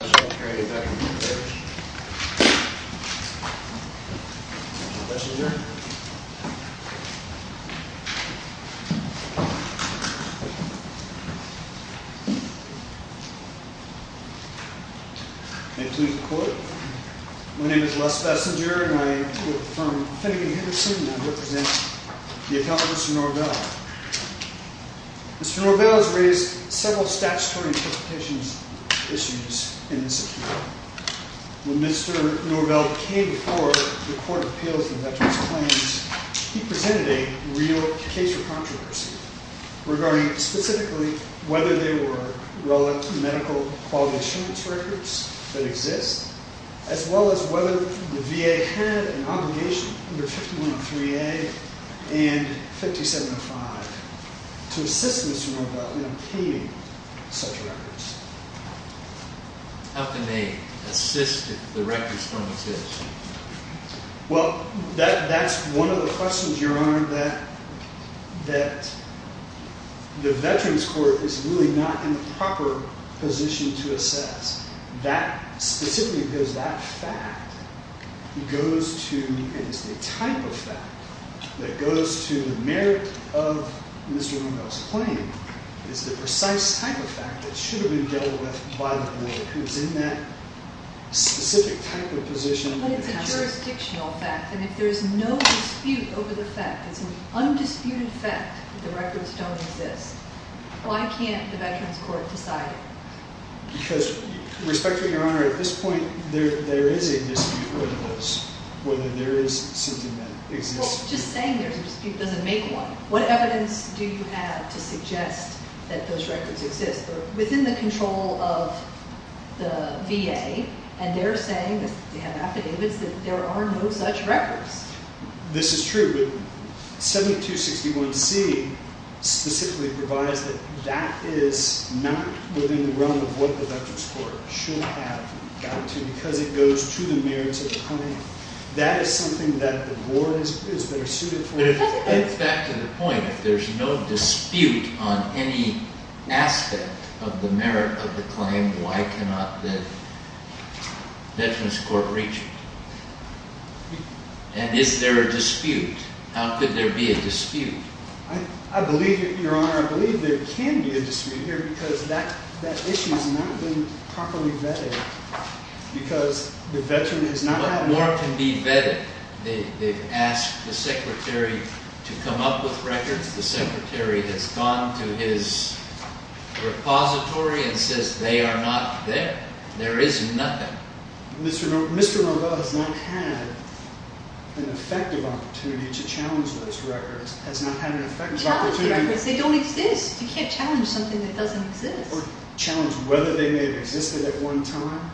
My name is Les Bessinger, and I am from Finnegan-Hiddleston, and I represent the account of Mr. Norvell. Mr. Norvell has raised several statutory issues in this appeal. When Mr. Norvell came before the Court of Appeals and Veterans Claims, he presented a real case for controversy, regarding specifically whether there were Rolex medical quality assurance records that exist, as well as whether the VA had an obligation under 51.3a and 50.75 to assist Mr. Norvell in obtaining such records. How can they assist the records firm with this? Well, that's one of the questions, Your Honor, that the Veterans Court is really not in a proper position to assess. That, specifically because that fact goes to, and is the type of fact that goes to the merit of Mr. Norvell's claim, is the precise type of fact that should have been dealt with by the court, who is in that specific type of position. But it's a jurisdictional fact, and if there is no dispute over the fact, it's an undisputed fact that the records don't exist, why can't the Veterans Court decide it? Because, respectfully, Your Honor, at this point, there is a dispute over this, whether there is something that exists. Well, just saying there's a dispute doesn't make one. What evidence do you have to suggest that those records exist? They're within the control of the VA, and they're saying that they have affidavits that there are no such records. This is true, but 7261c specifically provides that that is not within the realm of what the Veterans Court should have got to, and that is something that the board is better suited for. But it gets back to the point, if there's no dispute on any aspect of the merit of the claim, why cannot the Veterans Court reach it? And is there a dispute? How could there be a dispute? I believe, Your Honor, I believe there can be a dispute here, because that issue has not been properly vetted, because the Veteran has not had… What more can be vetted? They've asked the Secretary to come up with records. The Secretary has gone to his repository and says they are not there. There is nothing. Mr. Rombaugh has not had an effective opportunity to challenge those records, has not had an effective opportunity… Challenge the records. They don't exist. You can't challenge something that doesn't exist. Or challenge whether they may have existed at one time.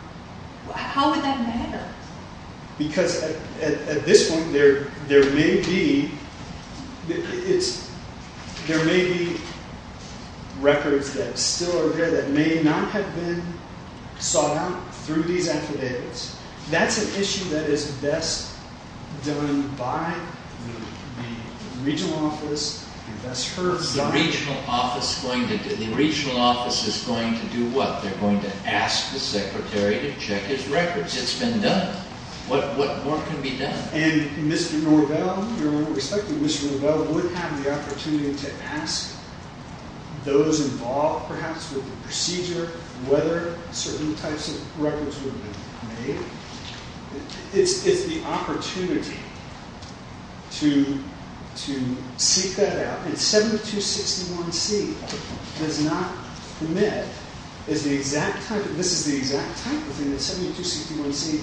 How would that matter? Because at this point, there may be records that still are there that may not have been sought out through these affidavits. That's an issue that is best done by the regional office and best heard by… What is the regional office going to do? The regional office is going to do what? They're going to ask the Secretary to check his records. It's been done. What more can be done? And Mr. Norvell, Your Honor, we expect that Mr. Norvell would have the opportunity to ask those involved, perhaps, with the procedure, whether certain types of records would have been made. It's the opportunity to seek that out. And 7261C does not permit… This is the exact type of thing that 7261C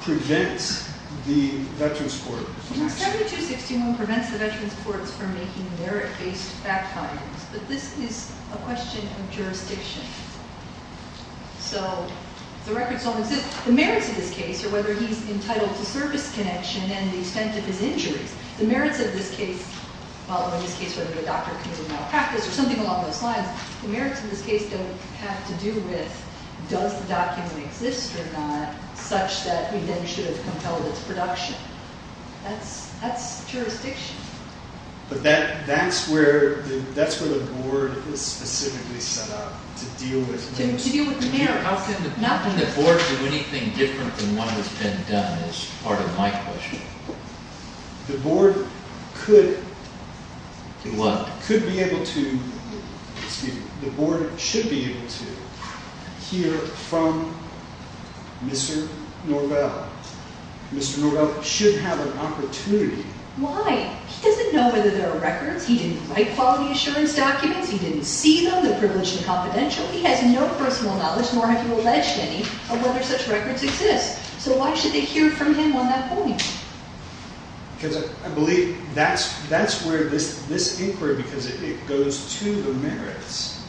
prevents the Veterans Courts… 7261 prevents the Veterans Courts from making merit-based fact-findings. But this is a question of jurisdiction. So the records don't exist. The merits of this case are whether he's entitled to service connection and the extent of his injuries. The merits of this case, whether the doctor committed malpractice or something along those lines, the merits of this case don't have to do with does the document exist or not, such that we then should have compelled its production. That's jurisdiction. But that's where the board is specifically set up, to deal with… To deal with the mayor. How can the board do anything different than what has been done is part of my question. The board could… Do what? Could be able to… Excuse me. The board should be able to hear from Mr. Norvell. Mr. Norvell should have an opportunity. Why? He doesn't know whether there are records. He didn't write quality assurance documents. He didn't see them. They're privileged and confidential. He has no personal knowledge, nor have you alleged any, of whether such records exist. So why should they hear from him on that point? Because I believe that's where this inquiry… Because it goes to the merits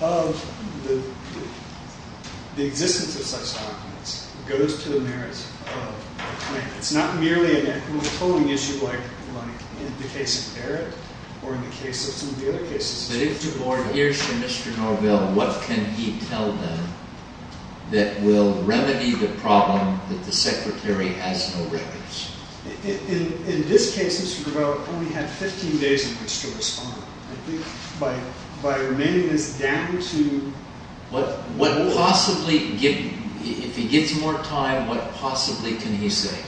of the existence of such documents. It goes to the merits of the claim. It's not merely an equity polling issue like in the case of Eric or in the case of some of the other cases. But if the board hears from Mr. Norvell, what can he tell them that will remedy the problem that the secretary has no records? In this case, Mr. Norvell only had 15 days in which to respond. I think by remaining this down to… What possibly… If he gets more time, what possibly can he say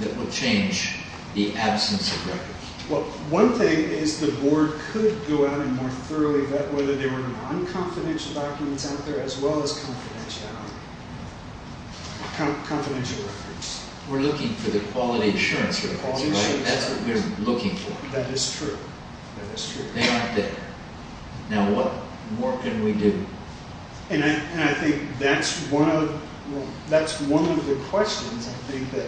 that will change the absence of records? Well, one thing is the board could go out and more thoroughly vet whether there were non-confidential documents out there as well as confidential records. We're looking for the quality assurance records, right? That's what we're looking for. That is true. That is true. They aren't there. Now, what more can we do? And I think that's one of the questions I think that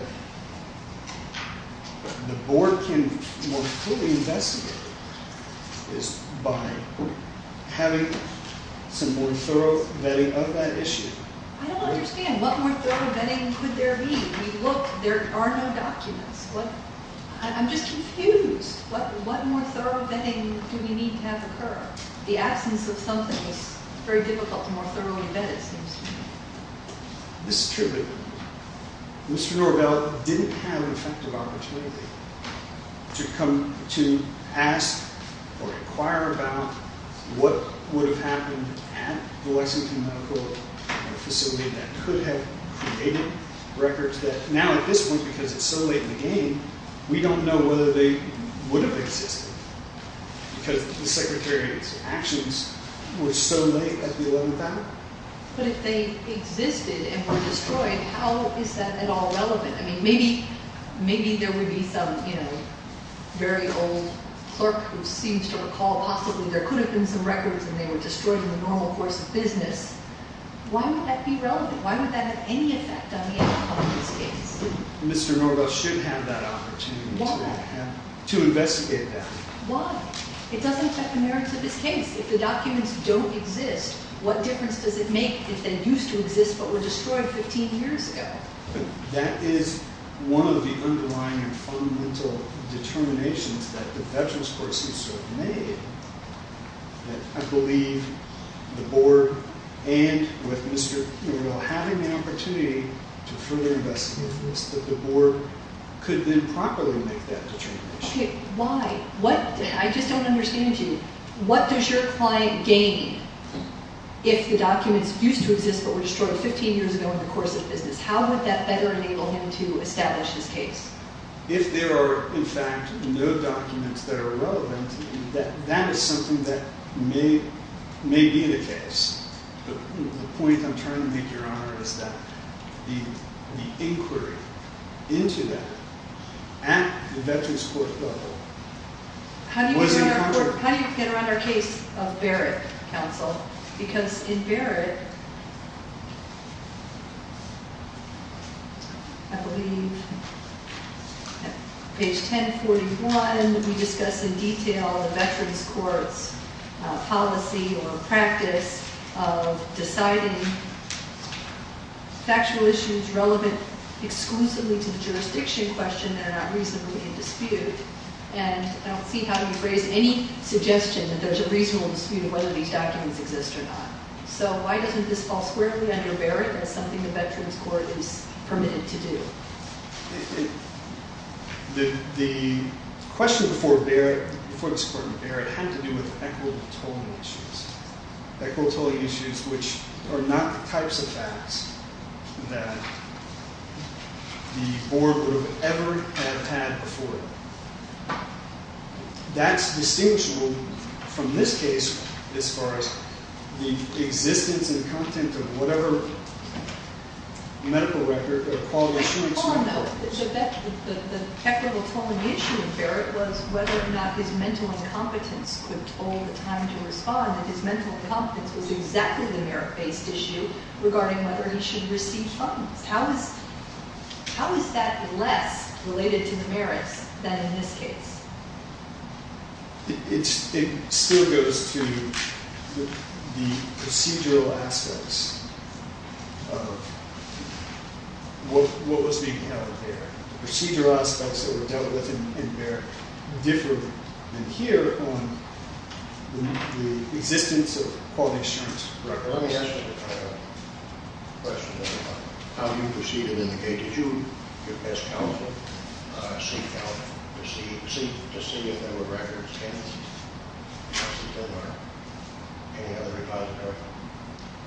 the board can more fully investigate is by having some more thorough vetting of that issue. I don't understand. What more thorough vetting could there be? We look. There are no documents. What… I'm just confused. What more thorough vetting do we need to have occur? The absence of something is very difficult to more thoroughly vet, it seems to me. This is true. Mr. Norvell didn't have an effective opportunity to come to ask or inquire about what would have happened at the Lexington Medical Facility that could have created records that… Now, at this point, because it's so late in the game, we don't know whether they would have existed. Because the secretary's actions were so late at the 11th hour. But if they existed and were destroyed, how is that at all relevant? I mean, maybe there would be some, you know, very old clerk who seems to recall possibly there could have been some records and they were destroyed in the normal course of business. Why would that be relevant? Why would that have any effect on the outcome of this case? Mr. Norvell should have that opportunity to investigate that. Why? It doesn't affect the merits of this case. If the documents don't exist, what difference does it make if they used to exist but were destroyed 15 years ago? That is one of the underlying and fundamental determinations that the Veterans Court seems to have made. I believe the board and with Mr. Norvell having the opportunity to further investigate this, that the board could then properly make that determination. Why? I just don't understand it. What does your client gain if the documents used to exist but were destroyed 15 years ago in the course of business? How would that better enable him to establish his case? If there are, in fact, no documents that are relevant, that is something that may be the case. But the point I'm trying to make, Your Honor, is that the inquiry into that at the Veterans Court level wasn't… How do you get around our case of Barrett, counsel? Because in Barrett, I believe at page 1041, we discuss in detail the Veterans Court's policy or practice of deciding factual issues relevant exclusively to the jurisdiction question that are not reasonably in dispute. And I don't see how you can phrase any suggestion that there's a reasonable dispute whether these documents exist or not. So why doesn't this fall squarely under Barrett as something the Veterans Court is permitted to do? The question before this court in Barrett had to do with equitable tolling issues. Equitable tolling issues which are not the types of acts that the board would ever have had before. That's distinguishable from this case as far as the existence and content of whatever medical record or quality assurance… Your Honor, the equitable tolling issue in Barrett was whether or not his mental incompetence could toll the time to respond. And his mental incompetence was exactly the merit-based issue regarding whether he should receive funds. How is that less related to the merits than in this case? It still goes to the procedural aspects of what was being held there. The procedural aspects that were dealt with in Barrett differed here on the existence of quality assurance records. Your Honor, let me ask you a question about how you proceeded in the case. Did you, as counsel, seek out to see if there were records and if there were any other repositories?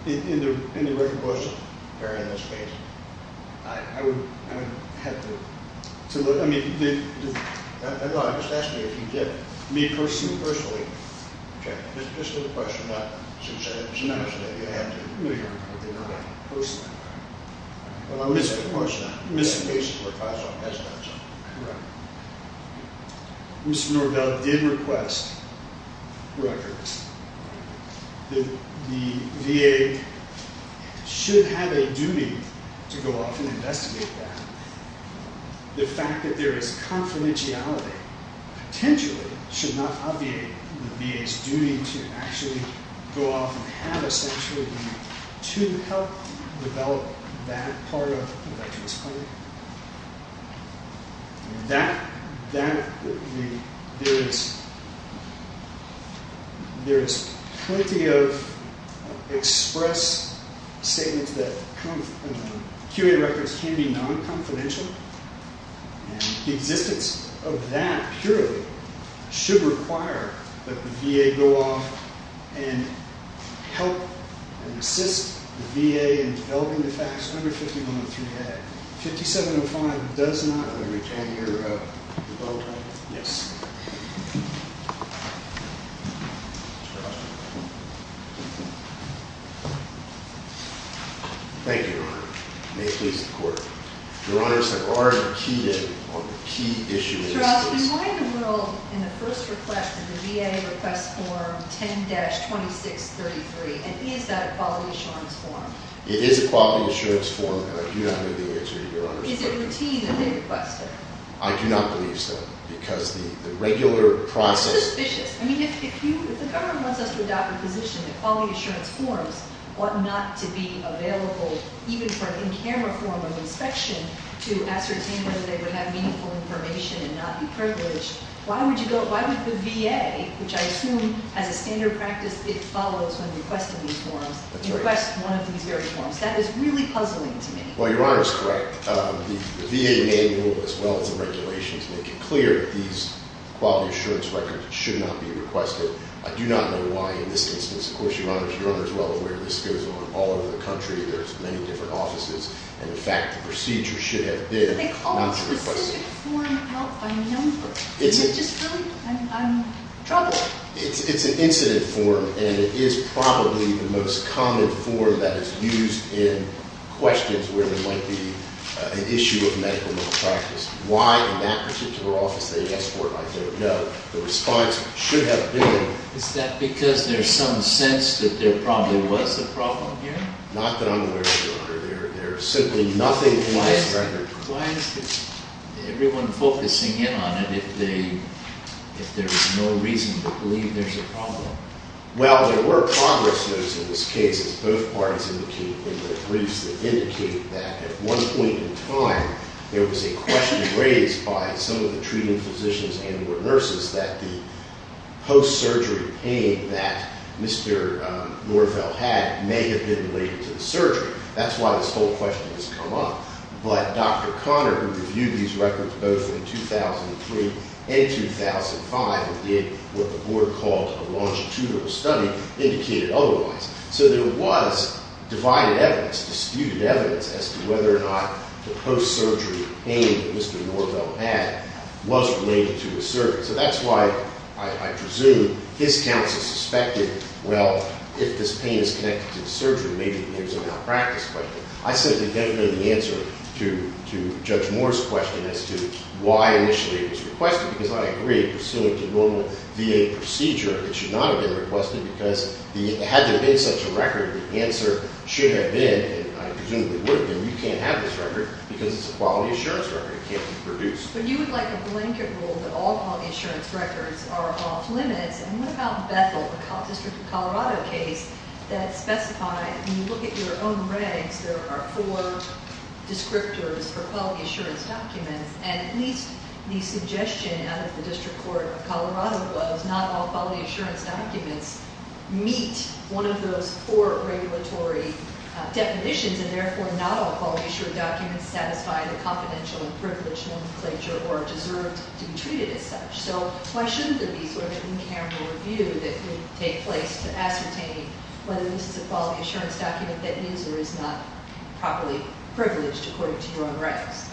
In the written version of Barrett in this case, I would have to… No, I'm just asking you if you did. Me, personally? Personally. Okay. Just for the question, not to say that you had to. No, Your Honor, I did not. Personally. Well, I'm missing the question. Mr. Norvell did request records. The VA should have a duty to go off and investigate that. The fact that there is confidentiality potentially should not obviate the VA's duty to actually go off and have a statutory review to help develop that part of the veteran's claim. There is plenty of express statements that QA records can be non-confidential, and the existence of that, purely, should require that the VA go off and help and assist the VA in developing the facts under 5103A. 5705 does not… Can you… Yes. Thank you, Your Honor. May it please the Court. Your Honor, I've already cheated on the key issue in this case. Your Honor, in the first request, the VA requests form 10-2633, and is that a quality assurance form? It is a quality assurance form, and I do not have the answer, Your Honor. Is it routine that they request it? I do not believe so, because the regular process… That's suspicious. I mean, if the government wants us to adopt a position that quality assurance forms ought not to be available, even for an in-camera form of inspection, to ascertain whether they would have meaningful information and not be privileged, why would the VA, which I assume, as a standard practice, it follows when requesting these forms, request one of these very forms? That is really puzzling to me. Well, Your Honor is correct. The VA may move, as well as the regulations, make it clear that these quality assurance records should not be requested. I do not know why in this instance. Of course, Your Honor is well aware this goes on all over the country. There's many different offices, and, in fact, the procedure should have been not to request… But they call it a specific form of help by number. Is it just really? I'm troubled. It's an incident form, and it is probably the most common form that is used in questions where there might be an issue of medical malpractice. Why in that particular office they ask for it, I don't know. The response should have been… Is that because there's some sense that there probably was a problem here? Not that I'm aware of, Your Honor. There's simply nothing in this record. Why is everyone focusing in on it if there is no reason to believe there's a problem? Well, there were progress notes in this case, as both parties indicated in their briefs, that indicate that at one point in time there was a question raised by some of the treating physicians and nurses that the post-surgery pain that Mr. Norvell had may have been related to the surgery. That's why this whole question has come up. But Dr. Connor, who reviewed these records both in 2003 and 2005 and did what the Board called a longitudinal study, indicated otherwise. So there was divided evidence, disputed evidence as to whether or not the post-surgery pain that Mr. Norvell had was related to his surgery. So that's why I presume his counsel suspected, well, if this pain is connected to the surgery, maybe there's a malpractice question. I simply don't know the answer to Judge Moore's question as to why initially it was requested. Because I agree, pursuant to normal VA procedure, it should not have been requested because had there been such a record, the answer should have been, and I presumably would have been, you can't have this record because it's a quality assurance record. It can't be produced. But you would like a blanket rule that all quality assurance records are off limits. And what about Bethel, the District of Colorado case that specified when you look at your own regs, there are four descriptors for quality assurance documents. And at least the suggestion out of the District Court of Colorado was not all quality assurance documents meet one of those four regulatory definitions, and therefore not all quality assurance documents satisfy the confidential and privileged nomenclature or are deserved to be treated as such. So why shouldn't there be sort of an in-camera review that could take place to ascertain whether this is a quality assurance document that is or is not properly privileged according to your own regs?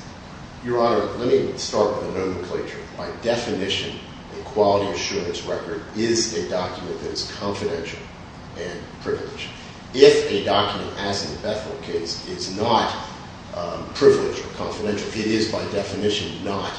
Your Honor, let me start with the nomenclature. By definition, a quality assurance record is a document that is confidential and privileged. If a document, as in the Bethel case, is not privileged or confidential, it is by definition not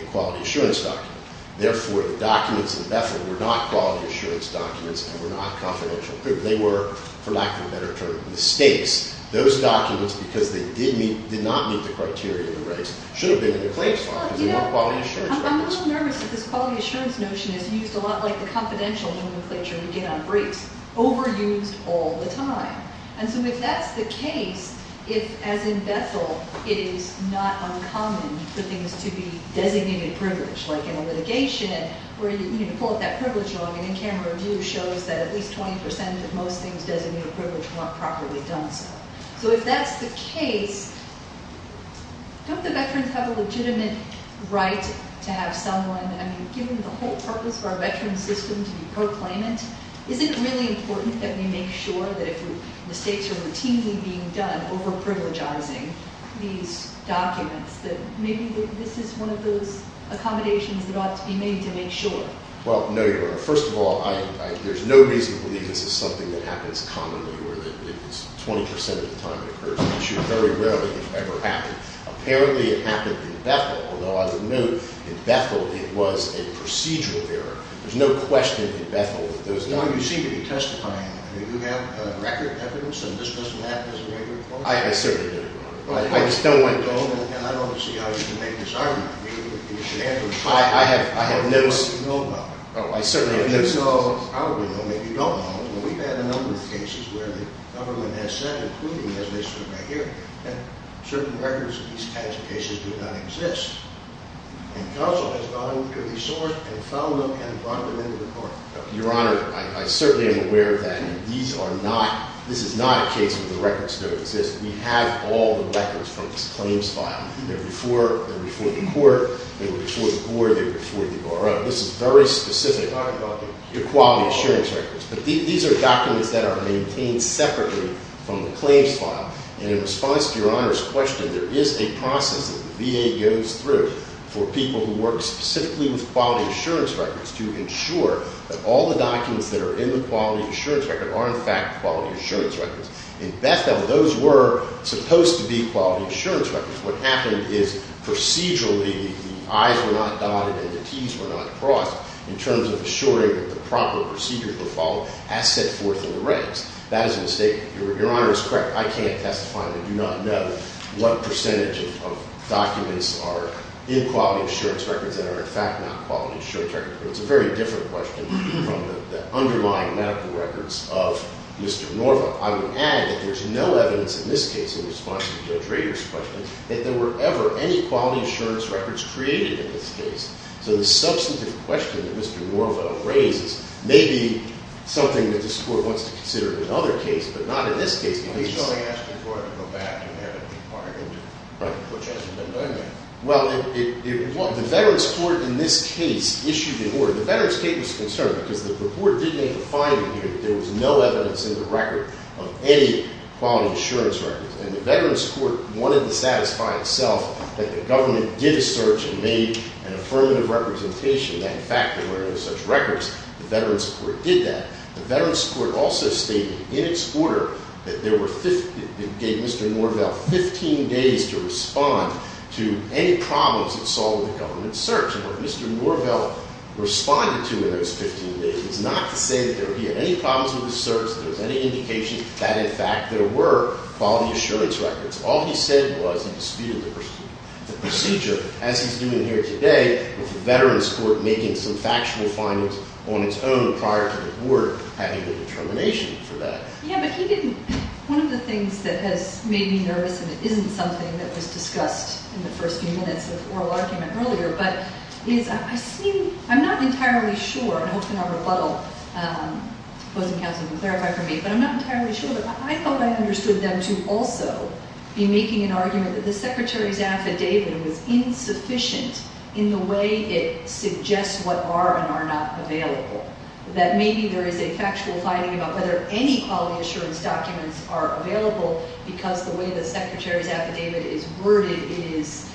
a quality assurance document. Therefore, the documents in Bethel were not quality assurance documents and were not confidential. They were, for lack of a better term, mistakes. Those documents, because they did not meet the criteria of the regs, should have been in the claims law because they weren't quality assurance records. I'm a little nervous that this quality assurance notion is used a lot like the confidential nomenclature we get on breaks. Overused all the time. And so if that's the case, if, as in Bethel, it is not uncommon for things to be designated privileged, like in a litigation where you need to pull out that privilege law, and an in-camera review shows that at least 20% of most things designated privileged weren't properly done so. So if that's the case, don't the veterans have a legitimate right to have someone, I mean, given the whole purpose of our veteran system to be proclaimant, is it really important that we make sure that if mistakes are routinely being done, overprivilegizing these documents, that maybe this is one of those accommodations that ought to be made to make sure? Well, no, Your Honor. First of all, there's no reason to believe this is something that happens commonly or that it's 20% of the time it occurs. It very rarely ever happens. Apparently it happened in Bethel, although I would note in Bethel it was a procedural error. There's no question in Bethel that those documents. Your Honor, you seem to be testifying. Do you have record evidence that this doesn't happen as a regular course? I certainly do. I just don't want to go and I don't see how you can make this argument. I have lips. You know about it. Oh, I certainly have lips. You know, probably know, maybe you don't know, but we've had a number of cases where the government has said, including as they stood right here, that certain records of these kinds of cases do not exist. And counsel has gone out and clearly sourced and found them and brought them into the court. Your Honor, I certainly am aware of that. And these are not, this is not a case where the records don't exist. We have all the records from this claims file. They're before the court. They were before the court. They were before the RO. This is very specific to quality assurance records. But these are documents that are maintained separately from the claims file. And in response to Your Honor's question, there is a process that the VA goes through for people who work specifically with quality assurance records to ensure that all the documents that are in the quality assurance record are, in fact, quality assurance records. In Bethel, those were supposed to be quality assurance records. What happened is procedurally the I's were not dotted and the T's were not crossed in terms of assuring that the proper procedures were followed as set forth in the regs. That is a mistake. Your Honor is correct. I can't testify. I do not know what percentage of documents are in quality assurance records that are, in fact, not quality assurance records. It's a very different question from the underlying medical records of Mr. Norvo. I would add that there's no evidence in this case in response to Judge Rader's question that there were ever any quality assurance records created in this case. So the substantive question that Mr. Norvo raises may be something that this court wants to consider in another case, but not in this case. He's only asking for it to go back and have it be bargained, which hasn't been done yet. Well, the Veterans Court in this case issued an order. The Veterans case was concerned because the report did make a finding here that there was no evidence in the record of any quality assurance records. And the Veterans Court wanted to satisfy itself that the government did a search and made an affirmative representation that, in fact, there were no such records. The Veterans Court did that. The Veterans Court also stated in its order that it gave Mr. Norvo 15 days to respond to any problems it saw with the government's search. And what Mr. Norvo responded to in those 15 days was not to say that there were any problems with the search, that there was any indication that, in fact, there were quality assurance records. All he said was he disputed the procedure, as he's doing here today, with the Veterans Court making some factual findings on its own prior to the court having the determination for that. Yeah, but he didn't. One of the things that has made me nervous, and it isn't something that was discussed in the first few minutes of the oral argument earlier, but I'm not entirely sure, and I hope in our rebuttal, opposing counsel can clarify for me, but I'm not entirely sure, but I thought I understood them to also be making an argument that the Secretary's affidavit was insufficient in the way it suggests what are and are not available, that maybe there is a factual finding about whether any quality assurance documents are available because the way the Secretary's affidavit is worded, it is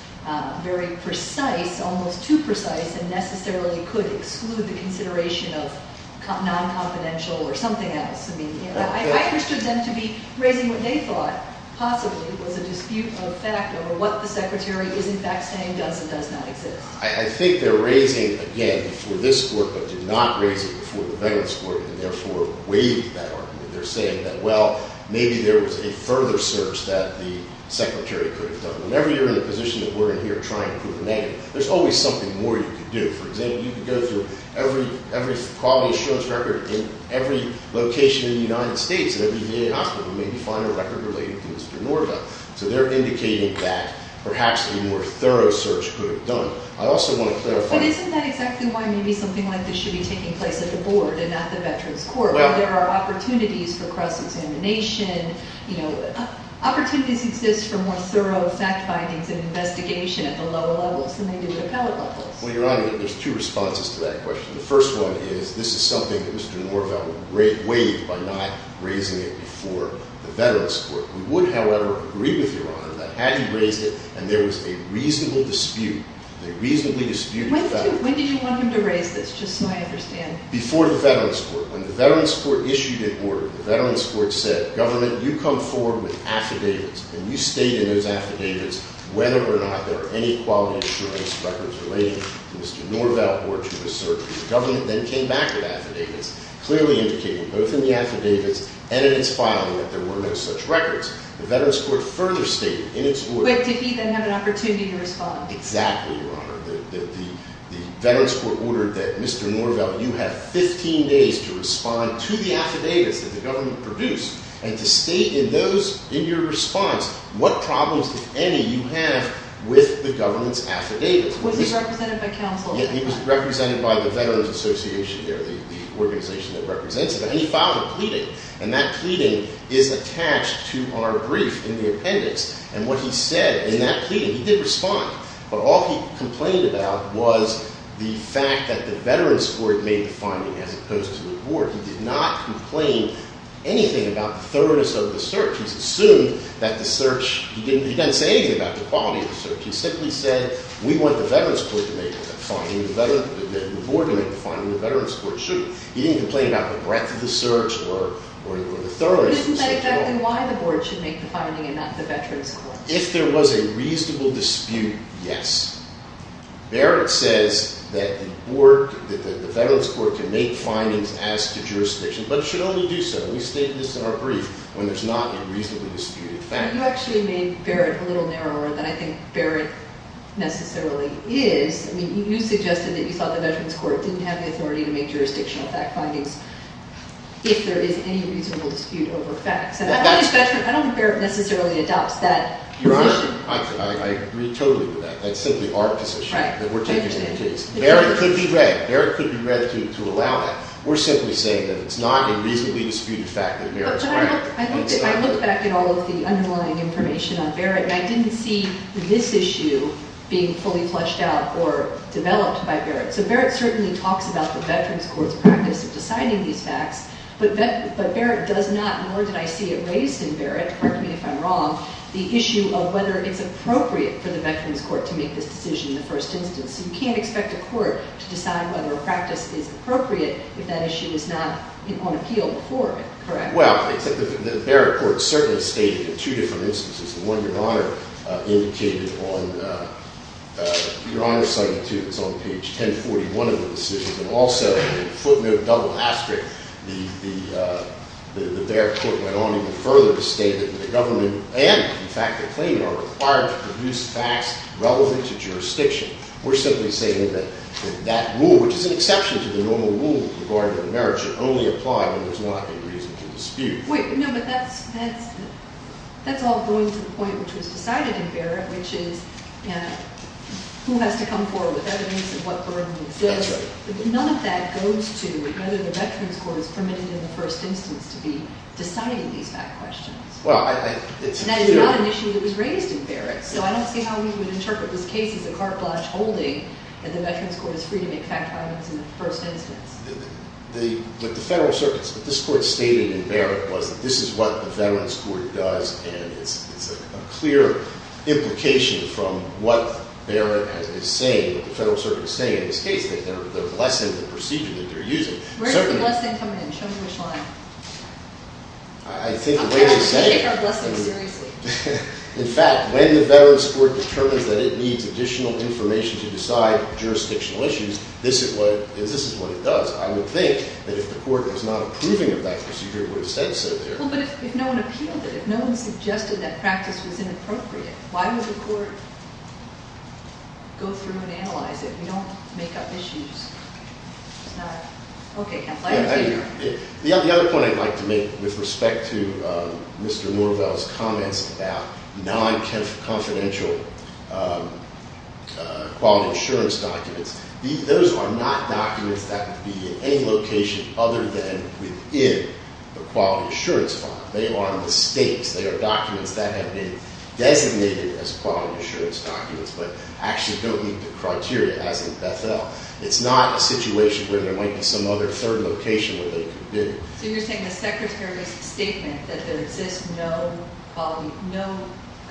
very precise, almost too precise, and necessarily could exclude the consideration of non-confidential or something else. I understood them to be raising what they thought possibly was a dispute of fact over what the Secretary is in fact saying does and does not exist. I think they're raising, again, before this Court, but did not raise it before the Veterans Court, and therefore waived that argument. They're saying that, well, maybe there was a further search that the Secretary could have done. Whenever you're in the position that we're in here trying to prove a negative, there's always something more you could do. For example, you could go through every quality assurance record in every location in the United States, in every VA hospital, and maybe find a record related to Mr. Norvell. So they're indicating that perhaps a more thorough search could have done. I also want to clarify. But isn't that exactly why maybe something like this should be taking place at the Board and not the Veterans Court, where there are opportunities for cross-examination? Opportunities exist for more thorough fact findings and investigation at the lower levels than they do at the appellate levels. Well, Your Honor, there's two responses to that question. The first one is this is something that Mr. Norvell waived by not raising it before the Veterans Court. We would, however, agree with Your Honor that had he raised it and there was a reasonable dispute, a reasonably disputed fact. When did you want him to raise this, just so I understand? Before the Veterans Court. When the Veterans Court issued it in order, the Veterans Court said, Government, you come forward with affidavits, and you state in those affidavits whether or not there are any quality assurance records relating to Mr. Norvell or to a search. The government then came back with affidavits, clearly indicating both in the affidavits and in its filing that there were no such records. The Veterans Court further stated in its order Wait, did he then have an opportunity to respond? Exactly, Your Honor. The Veterans Court ordered that Mr. Norvell, you have 15 days to respond to the affidavits that the government produced and to state in those, in your response, what problems, if any, you have with the government's affidavits. Was he represented by counsel? Yeah, he was represented by the Veterans Association there, the organization that represents it. And he filed a pleading. And that pleading is attached to our brief in the appendix. And what he said in that pleading, he did respond. But all he complained about was the fact that the Veterans Court made the finding as opposed to the court. He did not complain anything about the thoroughness of the search. He assumed that the search, he didn't say anything about the quality of the search. He simply said, we want the Veterans Court to make the finding, the board to make the finding, and the Veterans Court shouldn't. He didn't complain about the breadth of the search or the thoroughness of the search at all. Isn't that exactly why the board should make the finding and not the Veterans Court? If there was a reasonable dispute, yes. Barrett says that the board, that the Veterans Court can make findings as to jurisdiction. But it should only do so. We state this in our brief when there's not a reasonably disputed fact. You actually made Barrett a little narrower than I think Barrett necessarily is. I mean, you suggested that you thought the Veterans Court didn't have the authority to make jurisdictional fact findings if there is any reasonable dispute over facts. And I don't think Barrett necessarily adopts that position. Your Honor, I agree totally with that. That's simply our position that we're taking the case. Barrett could be read. Barrett could be read to allow that. We're simply saying that it's not a reasonably disputed fact that Barrett's right. But I looked back at all of the underlying information on Barrett, and I didn't see this issue being fully fleshed out or developed by Barrett. So Barrett certainly talks about the Veterans Court's practice of deciding these facts, but Barrett does not, nor did I see it raised in Barrett, correct me if I'm wrong, the issue of whether it's appropriate for the Veterans Court to make this decision in the first instance. So you can't expect a court to decide whether a practice is appropriate if that issue is not on appeal before it, correct? Well, the Barrett Court certainly stated in two different instances. The one Your Honor indicated on Your Honor cited, too, that's on page 1041 of the decision. And also in the footnote double asterisk, the Barrett Court went on even further to state that the government and, in fact, the claimant are required to produce facts relevant to jurisdiction. We're simply saying that that rule, which is an exception to the normal rule regarding marriage, should only apply when there's not a reasonable dispute. Wait, no, but that's all going to the point which was decided in Barrett, which is who has to come forward with evidence of what Barrett means. That's right. But none of that goes to whether the Veterans Court is permitted in the first instance to be deciding these fact questions. Well, I think it's a few. And that is not an issue that was raised in Barrett. So I don't see how we would interpret this case as a carte blanche holding that the Veterans Court is free to make fact questions in the first instance. But the Federal Circuit, what this Court stated in Barrett was that this is what the Veterans Court does, and it's a clear implication from what Barrett is saying, what the Federal Circuit is saying in this case, that they're blessing the procedure that they're using. Where does the blessing come in? Show me which line. I think the way they're saying it. Take our blessing seriously. In fact, when the Veterans Court determines that it needs additional information to decide jurisdictional issues, this is what it does. I would think that if the Court was not approving of that procedure, it would have said so there. Well, but if no one appealed it, if no one suggested that practice was inappropriate, why would the Court go through and analyze it? We don't make up issues. It's not. Okay. The other point I'd like to make with respect to Mr. Norvell's comments about non-confidential quality assurance documents, those are not documents that would be in any location other than within the quality assurance file. They are on the stakes. They are documents that have been designated as quality assurance documents, but actually don't meet the criteria as in Beth-El. It's not a situation where there might be some other third location where they could be. So you're saying the Secretary's statement that there exists no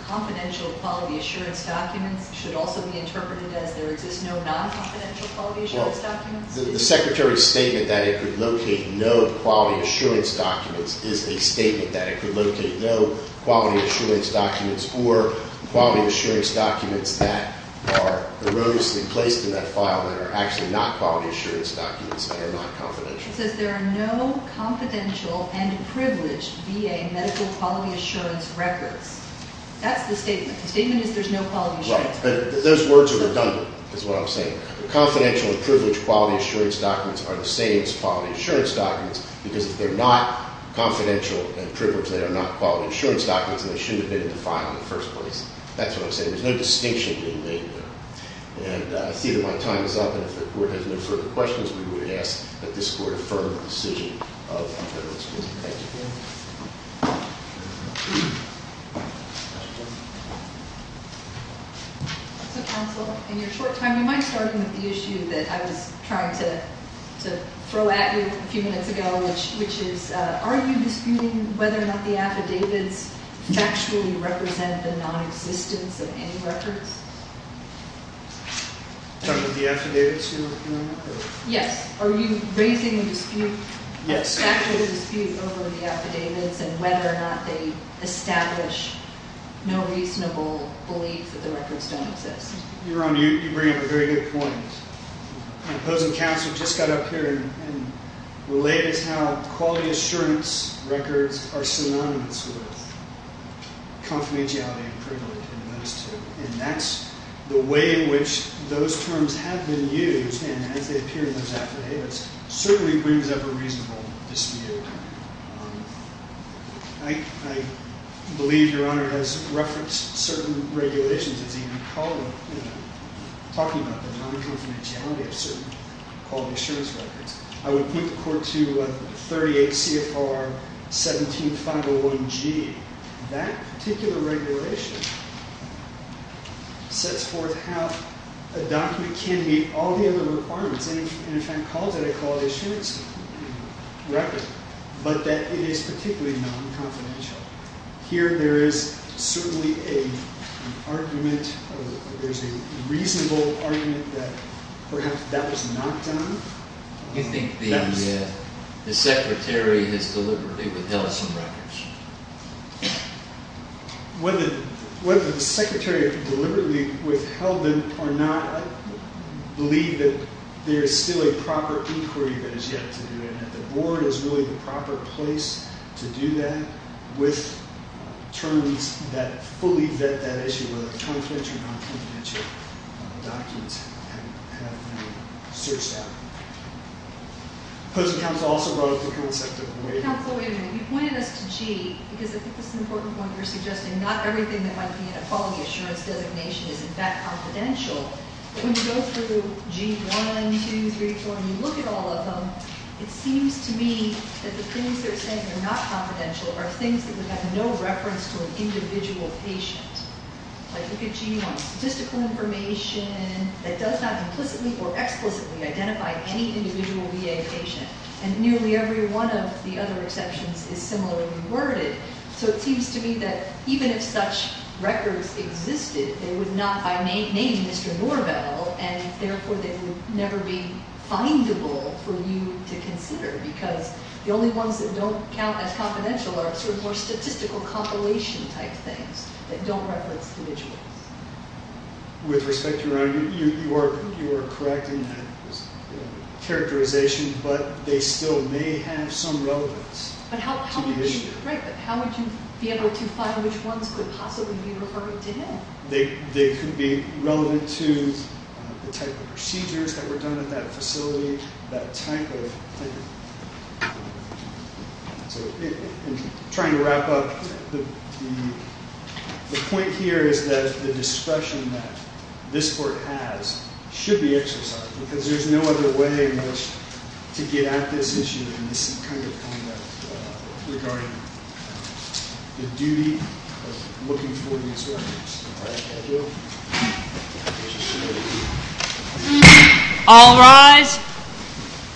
confidential quality assurance documents should also be interpreted as there exists no non-confidential quality assurance documents? Well, the Secretary's statement that it could locate no quality assurance documents is a statement that it could locate no quality assurance documents or quality assurance documents that are erroneously placed in that file that are actually not quality assurance documents and are not confidential. It says there are no confidential and privileged VA medical quality assurance records. That's the statement. The statement is there's no quality assurance records. Right. Those words are redundant is what I'm saying. Confidential and privileged quality assurance documents are the same as quality assurance documents because if they're not confidential and privileged, they are not quality assurance documents, and they shouldn't have been in the file in the first place. That's what I'm saying. There's no distinction being made there. And I see that my time is up, and if the Court has no further questions, we would ask that this Court affirm the decision of the Federal Institute. Thank you. So, Counsel, in your short time, you mind starting with the issue that I was trying to throw at you a few minutes ago? Which is, are you disputing whether or not the affidavits factually represent the nonexistence of any records? You're talking about the affidavits you're looking at? Yes. Are you raising a dispute, a factual dispute over the affidavits and whether or not they establish no reasonable belief that the records don't exist? You're on mute. You bring up a very good point. My opposing counsel just got up here and relayed to us how quality assurance records are synonymous with confidentiality and privilege. And that's the way in which those terms have been used, and as they appear in those affidavits, certainly brings up a reasonable dispute. I believe Your Honor has referenced certain regulations, as you recall, talking about the non-confidentiality of certain quality assurance records. I would point the Court to 38 CFR 17501G. That particular regulation sets forth how a document can meet all the other requirements. And if I called it a quality assurance record, but that it is particularly non-confidential. Here there is certainly an argument, there's a reasonable argument that perhaps that was not done. Do you think the Secretary has deliberately withheld some records? Whether the Secretary deliberately withheld them or not, I believe that there is still a proper inquiry that is yet to do that. The Board is really the proper place to do that with terms that fully vet that issue, whether they're confidential or non-confidential documents have been searched out. Opposing counsel also brought up the concept of waiting. You pointed us to G, because I think this is an important point you're suggesting. Not everything that might be in a quality assurance designation is in fact confidential. But when you go through G1, 2, 3, 4, and you look at all of them, it seems to me that the things they're saying are not confidential are things that would have no reference to an individual patient. Like look at G1, statistical information that does not implicitly or explicitly identify any individual VA patient. And nearly every one of the other exceptions is similarly worded. So it seems to me that even if such records existed, they would not by name Mr. Norvell, and therefore they would never be findable for you to consider because the only ones that don't count as confidential are sort of more statistical compilation type things that don't reference individuals. With respect, Your Honor, you are correct in that characterization. But they still may have some relevance to the issue. Right, but how would you be able to find which ones could possibly be referred to him? They could be relevant to the type of procedures that were done at that facility, that type of thing. Trying to wrap up, the point here is that the discretion that this court has should be exercised because there's no other way to get at this issue and this kind of conduct regarding the duty of looking for these records. All rise.